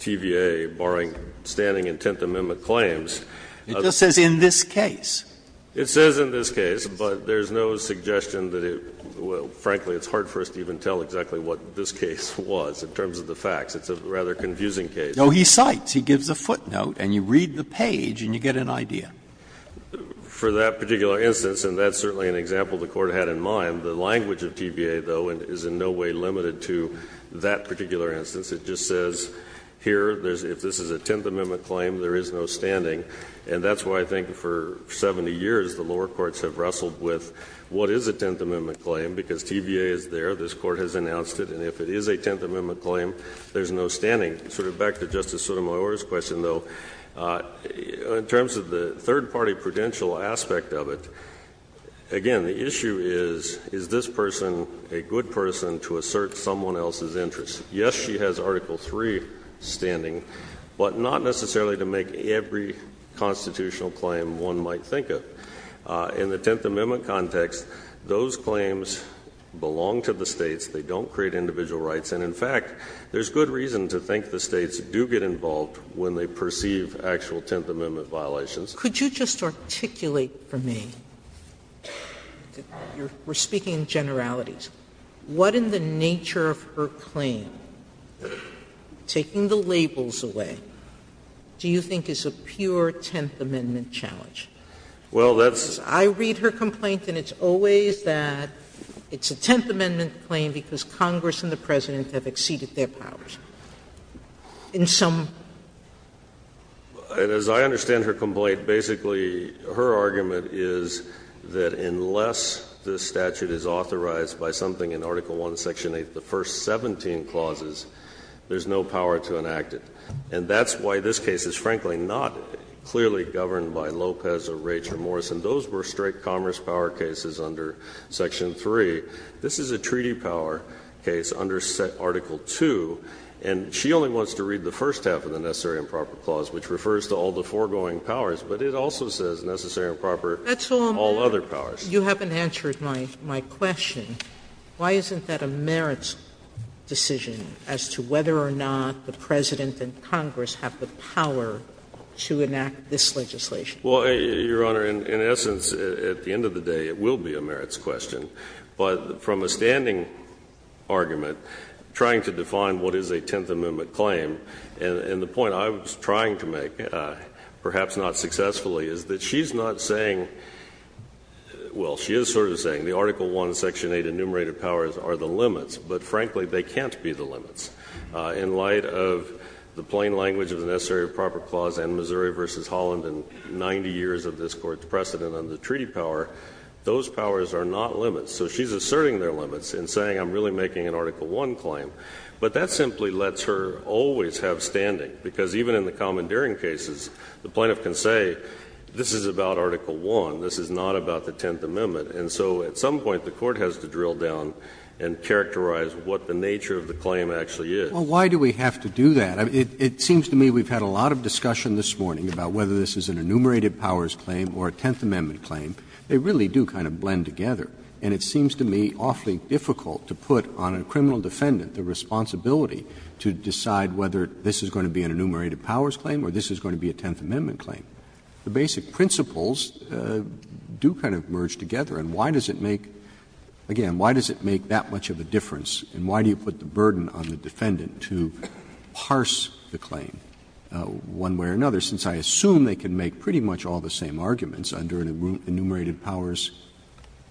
TVA, barring standing in Tenth Amendment claims. Breyer, it just says in this case. It says in this case, but there's no suggestion that it will – frankly, it's hard for us to even tell exactly what this case was in terms of the facts. It's a rather confusing case. No, he cites. He gives a footnote and you read the page and you get an idea. For that particular instance, and that's certainly an example the Court had in mind, the language of TVA, though, is in no way limited to that particular instance. It just says here, if this is a Tenth Amendment claim, there is no standing. And that's why I think for 70 years, the lower courts have wrestled with what is a Tenth Amendment claim, because TVA is there, this Court has announced it, and if it is a Tenth Amendment claim, there's no standing. Sort of back to Justice Sotomayor's question, though, in terms of the third-party prudential aspect of it, again, the issue is, is this person a good person to assert someone else's interests? Yes, she has Article III standing, but not necessarily to make every constitutional claim one might think of. In the Tenth Amendment context, those claims belong to the States. They don't create individual rights. And in fact, there's good reason to think the States do get involved when they perceive actual Tenth Amendment violations. Sotomayor, could you just articulate for me, we're speaking in generalities. What in the nature of her claim, taking the labels away, do you think is a pure Tenth Amendment challenge? I read her complaint and it's always that it's a Tenth Amendment claim because Congress and the President have exceeded their powers in some way. And as I understand her complaint, basically, her argument is that unless the statute is authorized by something in Article I, Section 8, the first 17 clauses, there's no power to enact it. And that's why this case is, frankly, not clearly governed by Lopez or Raich or Morrison. Those were straight commerce power cases under Section 3. This is a treaty power case under Article II, and she only wants to read the first half of the necessary and proper clause, which refers to all the foregoing powers, but it also says necessary and proper all other powers. Sotomayor, you haven't answered my question. Why isn't that a merits decision as to whether or not the President and Congress have the power to enact this legislation? Well, Your Honor, in essence, at the end of the day, it will be a merits question. But from a standing argument, trying to define what is a Tenth Amendment claim, and the point I was trying to make, perhaps not successfully, is that she's not saying – well, she is sort of saying the Article I, Section 8 enumerated powers are the limits, but, frankly, they can't be the limits. In light of the plain language of the necessary and proper clause and Missouri v. Holland and 90 years of this Court's precedent on the treaty power, those powers are not limits. So she's asserting their limits in saying I'm really making an Article I claim, but that simply lets her always have standing, because even in the commandeering cases, the plaintiff can say this is about Article I, this is not about the Tenth Amendment. And so at some point, the Court has to drill down and characterize what the nature of the claim actually is. Well, why do we have to do that? It seems to me we've had a lot of discussion this morning about whether this is an enumerated powers claim or a Tenth Amendment claim. They really do kind of blend together, and it seems to me awfully difficult to put on a criminal defendant the responsibility to decide whether this is going to be an enumerated powers claim or this is going to be a Tenth Amendment claim. The basic principles do kind of merge together, and why does it make, again, why does it make that much of a difference, and why do you put the burden on the defendant to parse the claim one way or another, since I assume they can make pretty much all the same arguments under an enumerated powers,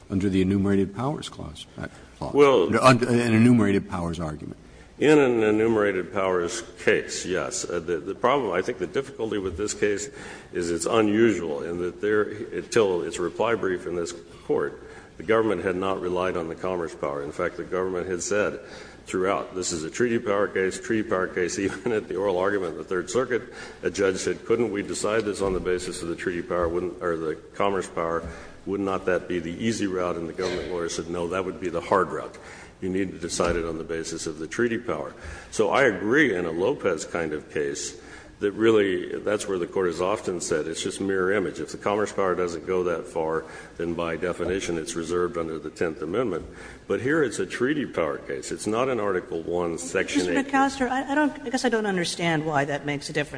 under the enumerated powers clause, an enumerated powers argument. In an enumerated powers case, yes. The problem, I think the difficulty with this case is it's unusual in that there until its reply brief in this Court, the government had not relied on the commerce power. In fact, the government had said throughout, this is a treaty power case, treaty power case, even at the oral argument in the Third Circuit, a judge said couldn't we decide this on the basis of the treaty power or the commerce power, would not that be the easy route, and the government lawyer said no, that would be the hard route. You need to decide it on the basis of the treaty power. So I agree in a Lopez kind of case that really that's where the Court has often said it's just mirror image. If the commerce power doesn't go that far, then by definition it's reserved under the Tenth Amendment. But here it's a treaty power case. It's not an Article I, Section 8 case. Kagan. Kagan. Kagan. Kagan. Kagan. Kagan. Kagan. Kagan. Kagan.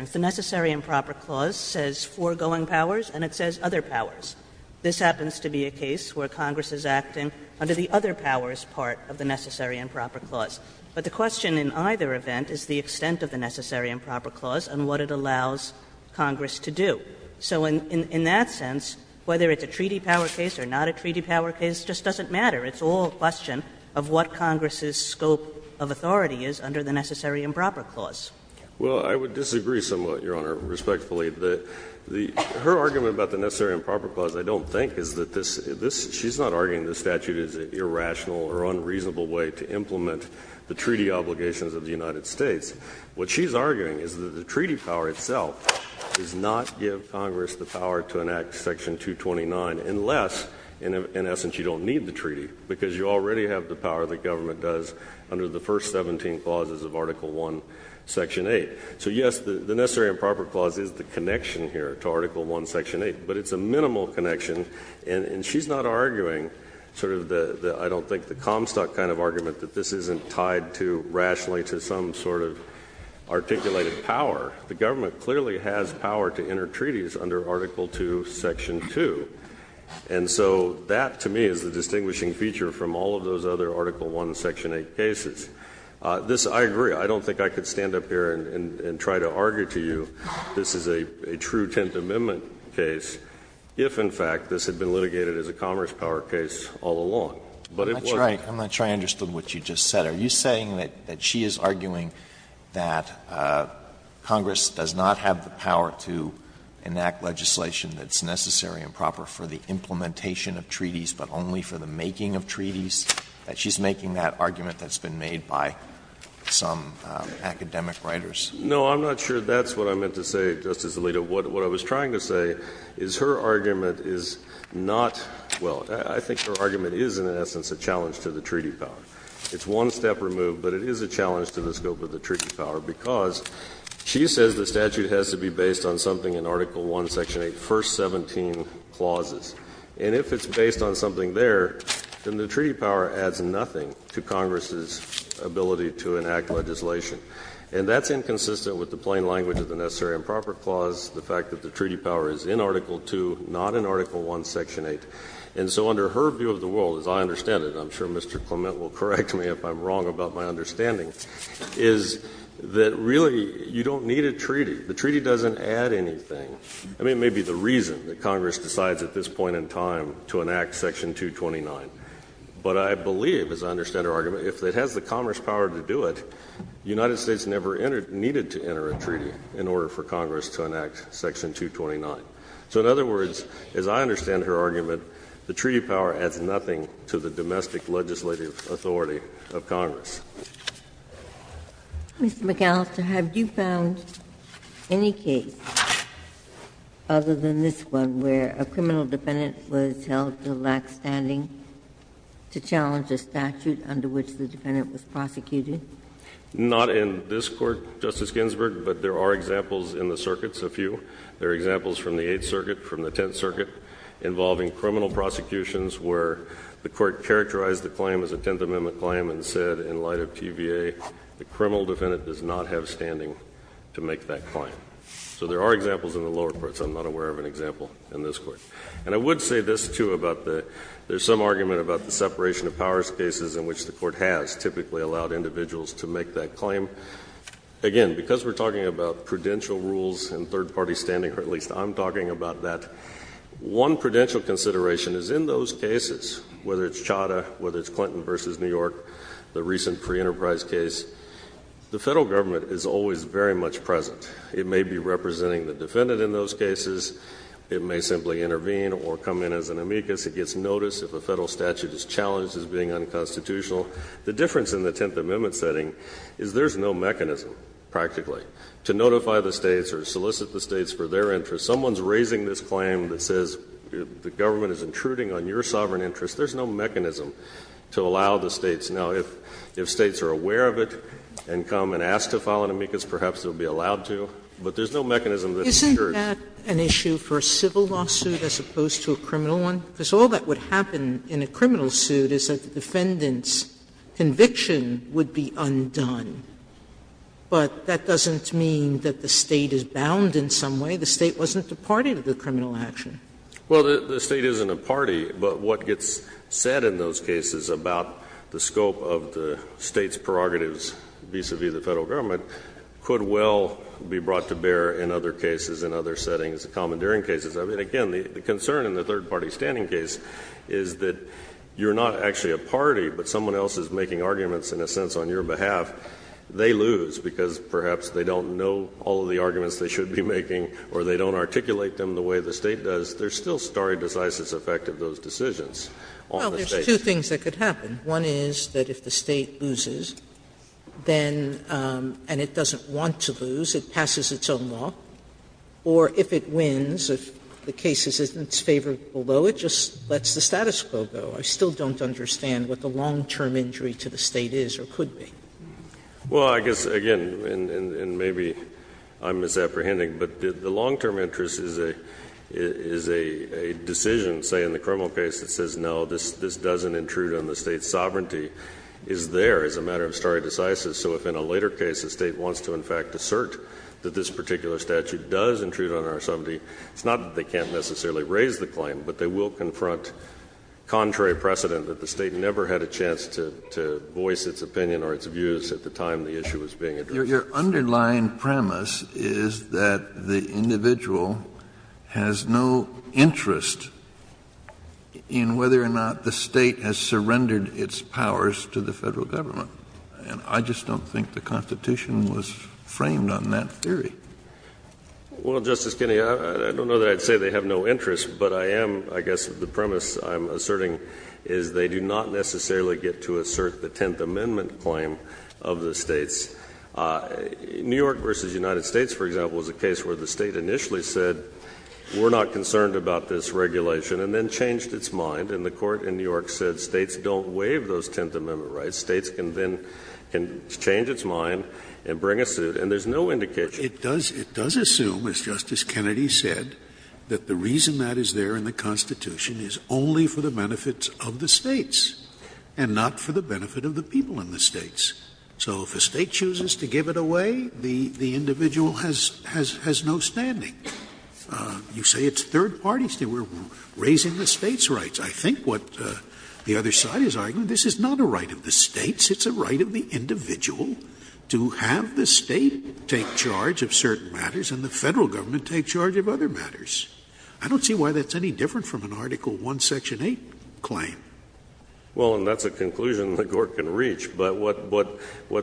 Kagan. Kagan. Kagan. Kagan. in either event is the extent of the necessary and proper clause and what it allows Congress to do. So in that sense, whether it's a treaty power case or not a treaty power case, it just doesn't matter. It's all a question of what Congress's scope of authority is under the necessary and proper clause. Well, I would disagree somewhat, Your Honor, respectfully. Her argument about the necessary and proper clause, I don't think, is that this she's not arguing this statute is irrational or unreasonable. It's a reasonable way to implement the treaty obligations of the United States. What she's arguing is that the treaty power itself does not give Congress the power to enact section 229 unless, in essence, you don't need the treaty. Because you already have the power the government does under the first 17 clauses of article 1, section 8. So yes, the necessary and proper clause is the connection here to article 1, section 8. But it's a minimal connection. And she's not arguing sort of the, I don't think, the Comstock kind of argument that this isn't tied to, rationally, to some sort of articulated power. The government clearly has power to enter treaties under article 2, section 2. And so that, to me, is the distinguishing feature from all of those other article 1, section 8 cases. This, I agree, I don't think I could stand up here and try to argue to you this is a true Tenth Amendment case if, in fact, this had been litigated as a Commerce power case all along. But it wasn't. Alito, I'm not sure I understood what you just said. Are you saying that she is arguing that Congress does not have the power to enact legislation that's necessary and proper for the implementation of treaties, but only for the making of treaties, that she's making that argument that's been made by some academic writers? No, I'm not sure that's what I meant to say, Justice Alito. What I was trying to say is her argument is not well, I think her argument is in essence a challenge to the treaty power. It's one step removed, but it is a challenge to the scope of the treaty power, because she says the statute has to be based on something in article 1, section 8, first 17 clauses. And if it's based on something there, then the treaty power adds nothing to Congress's ability to enact legislation. And that's inconsistent with the plain language of the necessary and proper clause, the fact that the treaty power is in article 2, not in article 1, section 8. And so under her view of the world, as I understand it, and I'm sure Mr. Clement will correct me if I'm wrong about my understanding, is that really you don't need a treaty. The treaty doesn't add anything. I mean, it may be the reason that Congress decides at this point in time to enact section 229. But I believe, as I understand her argument, if it has the Commerce power to do it, the United States never entered or needed to enter a treaty in order for Congress to enact section 229. So in other words, as I understand her argument, the treaty power adds nothing to the domestic legislative authority of Congress. Ginsburg. Mr. McAllister, have you found any case other than this one where a criminal defendant was held to lack standing to challenge a statute under which the defendant was prosecuted? Not in this Court, Justice Ginsburg, but there are examples in the circuits, a few. There are examples from the Eighth Circuit, from the Tenth Circuit, involving criminal prosecutions where the Court characterized the claim as a Tenth Amendment claim and said in light of TVA, the criminal defendant does not have standing to make that claim. So there are examples in the lower courts. I'm not aware of an example in this Court. And I would say this, too, about the — there's some argument about the separation of powers cases in which the Court has typically allowed individuals to make that claim. Again, because we're talking about prudential rules and third-party standing, or at least I'm talking about that, one prudential consideration is in those cases, whether it's Chadha, whether it's Clinton v. New York, the recent pre-Enterprise case, the Federal Government is always very much present. It may be representing the defendant in those cases. It may simply intervene or come in as an amicus. It gets notice if a Federal statute is challenged as being unconstitutional. The difference in the Tenth Amendment setting is there's no mechanism, practically, to notify the States or solicit the States for their interest. Someone's raising this claim that says the government is intruding on your sovereign interest. There's no mechanism to allow the States. Now, if States are aware of it and come and ask to file an amicus, perhaps they'll be allowed to, but there's no mechanism that ensures. Sotomayor, isn't that an issue for a civil lawsuit as opposed to a criminal one? Because all that would happen in a criminal suit is that the defendant's conviction would be undone, but that doesn't mean that the State is bound in some way. The State wasn't a party to the criminal action. Well, the State isn't a party, but what gets said in those cases about the scope of the State's prerogatives vis-a-vis the Federal Government could well be brought to bear in other cases, in other settings, the commandeering cases. I mean, again, the concern in the third-party standing case is that you're not actually a party, but someone else is making arguments, in a sense, on your behalf. They lose because perhaps they don't know all of the arguments they should be making or they don't articulate them the way the State does. There's still stare decisis effect of those decisions on the States. Sotomayor, there's two things that could happen. One is that if the State loses, then and it doesn't want to lose, it passes its own law, or if it wins, if the case is in its favor below, it just lets the status quo go. I still don't understand what the long-term injury to the State is or could be. Well, I guess, again, and maybe I'm misapprehending, but the long-term interest is a decision, say, in the criminal case that says, no, this doesn't intrude on the State's sovereignty, is there as a matter of stare decisis. So if in a later case the State wants to, in fact, assert that this particular statute does intrude on our sovereignty, it's not that they can't necessarily raise the claim, but they will confront contrary precedent that the State never had a chance to voice its opinion or its views at the time the issue was being addressed. Your underlying premise is that the individual has no interest in whether or not the State has surrendered its powers to the Federal Government. And I just don't think the Constitution was framed on that theory. Well, Justice Kennedy, I don't know that I'd say they have no interest, but I am, I guess, the premise I'm asserting is they do not necessarily get to assert the Tenth Amendment claim of the States. New York v. United States, for example, is a case where the State initially said, we're not concerned about this regulation, and then changed its mind, and the State can change its mind and bring a suit, and there's no indication. It does assume, as Justice Kennedy said, that the reason that is there in the Constitution is only for the benefits of the States, and not for the benefit of the people in the States. So if a State chooses to give it away, the individual has no standing. You say it's third-party State. We're raising the States' rights. I think what the other side is arguing, this is not a right of the States. It's a right of the individual to have the State take charge of certain matters and the Federal government take charge of other matters. I don't see why that's any different from an Article I, Section 8 claim. Well, and that's a conclusion that Gort can reach. But what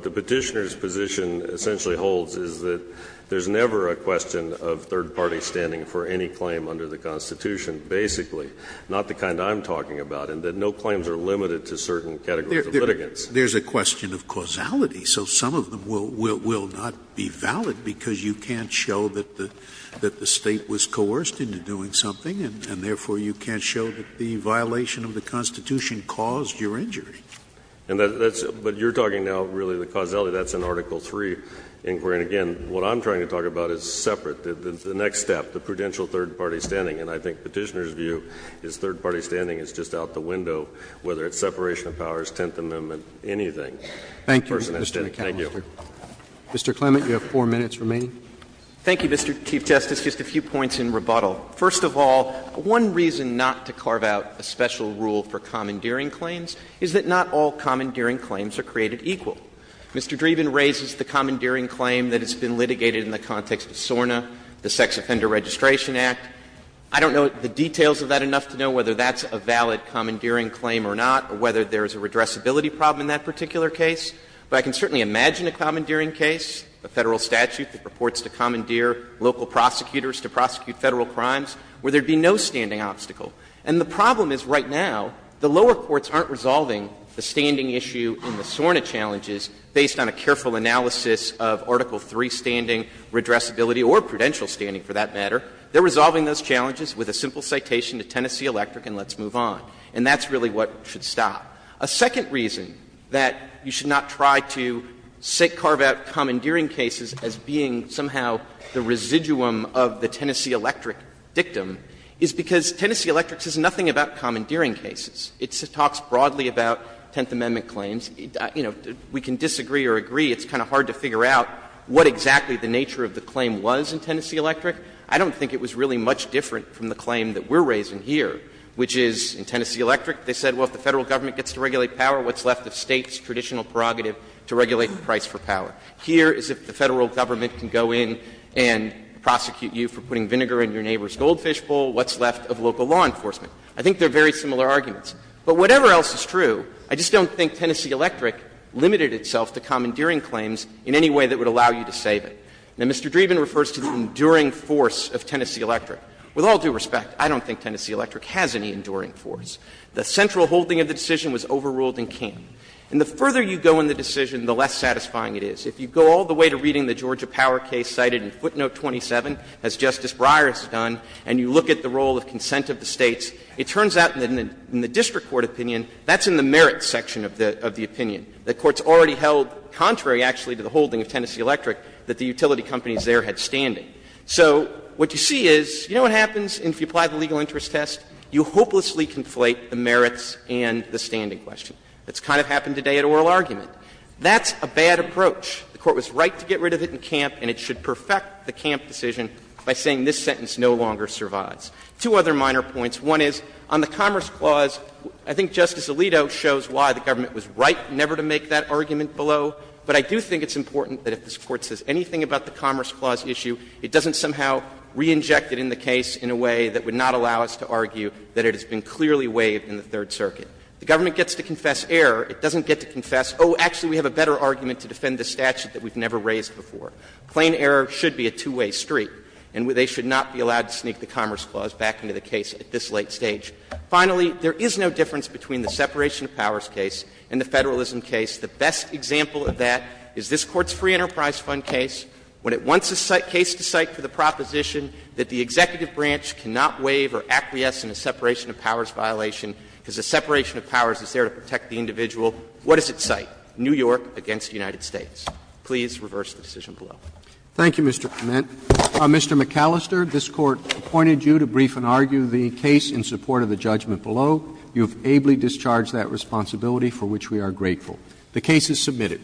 the Petitioner's position essentially holds is that there's never a question of third parties standing for any claim under the Constitution, basically, not the kind I'm talking about, and that no claims are limited to certain categories of litigants. There's a question of causality, so some of them will not be valid, because you can't show that the State was coerced into doing something, and therefore you can't show that the violation of the Constitution caused your injury. And that's – but you're talking now, really, the causality. That's an Article III inquiry, and again, what I'm trying to talk about is separate. The next step, the prudential third-party standing, and I think Petitioner's view is third-party standing is just out the window, whether it's separation of powers, Tenth Amendment, anything. Roberts, thank you. Mr. Clement, you have 4 minutes remaining. Thank you, Mr. Chief Justice. Just a few points in rebuttal. First of all, one reason not to carve out a special rule for commandeering claims is that not all commandeering claims are created equal. Mr. Dreeben raises the commandeering claim that has been litigated in the context of SORNA, the Sex Offender Registration Act. I don't know the details of that enough to know whether that's a valid commandeering claim or not, or whether there's a redressability problem in that particular case, but I can certainly imagine a commandeering case, a Federal statute that purports to commandeer local prosecutors to prosecute Federal crimes, where there would be no standing obstacle. And the problem is, right now, the lower courts aren't resolving the standing issue in the SORNA challenges based on a careful analysis of Article III standing, redressability, or prudential standing, for that matter. They're resolving those challenges with a simple citation to Tennessee Electric and let's move on. And that's really what should stop. A second reason that you should not try to carve out commandeering cases as being somehow the residuum of the Tennessee Electric dictum is because Tennessee Electric says nothing about commandeering cases. It talks broadly about Tenth Amendment claims. You know, we can disagree or agree. It's kind of hard to figure out what exactly the nature of the claim was in Tennessee Electric. I don't think it was really much different from the claim that we're raising here, which is in Tennessee Electric they said, well, if the Federal government gets to regulate power, what's left of State's traditional prerogative to regulate the price for power? Here is if the Federal government can go in and prosecute you for putting vinegar in your neighbor's goldfish bowl, what's left of local law enforcement? I think they're very similar arguments. But whatever else is true, I just don't think Tennessee Electric limited itself to commandeering claims in any way that would allow you to save it. Now, Mr. Dreeben refers to the enduring force of Tennessee Electric. With all due respect, I don't think Tennessee Electric has any enduring force. The central holding of the decision was overruled in King. And the further you go in the decision, the less satisfying it is. If you go all the way to reading the Georgia Power case cited in footnote 27, as Justice Breyer has done, and you look at the role of consent of the States, it turns out that in the district court opinion, that's in the merits section of the opinion. The court's already held, contrary actually to the holding of Tennessee Electric, that the utility companies there had standing. So what you see is, you know what happens if you apply the legal interest test? You hopelessly conflate the merits and the standing question. That's kind of happened today at oral argument. That's a bad approach. The Court was right to get rid of it in Camp, and it should perfect the Camp decision by saying this sentence no longer survives. Two other minor points. One is, on the Commerce Clause, I think Justice Alito shows why the government was right never to make that argument below. But I do think it's important that if this Court says anything about the Commerce Clause issue, it doesn't somehow re-inject it in the case in a way that would not allow us to argue that it has been clearly waived in the Third Circuit. The government gets to confess error. It doesn't get to confess, oh, actually, we have a better argument to defend this statute that we've never raised before. Plain error should be a two-way street, and they should not be allowed to sneak the Commerce Clause back into the case at this late stage. Finally, there is no difference between the separation of powers case and the Federalism case. The best example of that is this Court's Free Enterprise Fund case. When it wants a case to cite for the proposition that the executive branch cannot waive or acquiesce in a separation of powers violation because the separation of powers is there to protect the individual, what does it cite? New York against the United States. Please reverse the decision below. Roberts. Thank you, Mr. Clement. Mr. McAllister, this Court appointed you to brief and argue the case in support of the judgment below. You have ably discharged that responsibility, for which we are grateful. The case is submitted.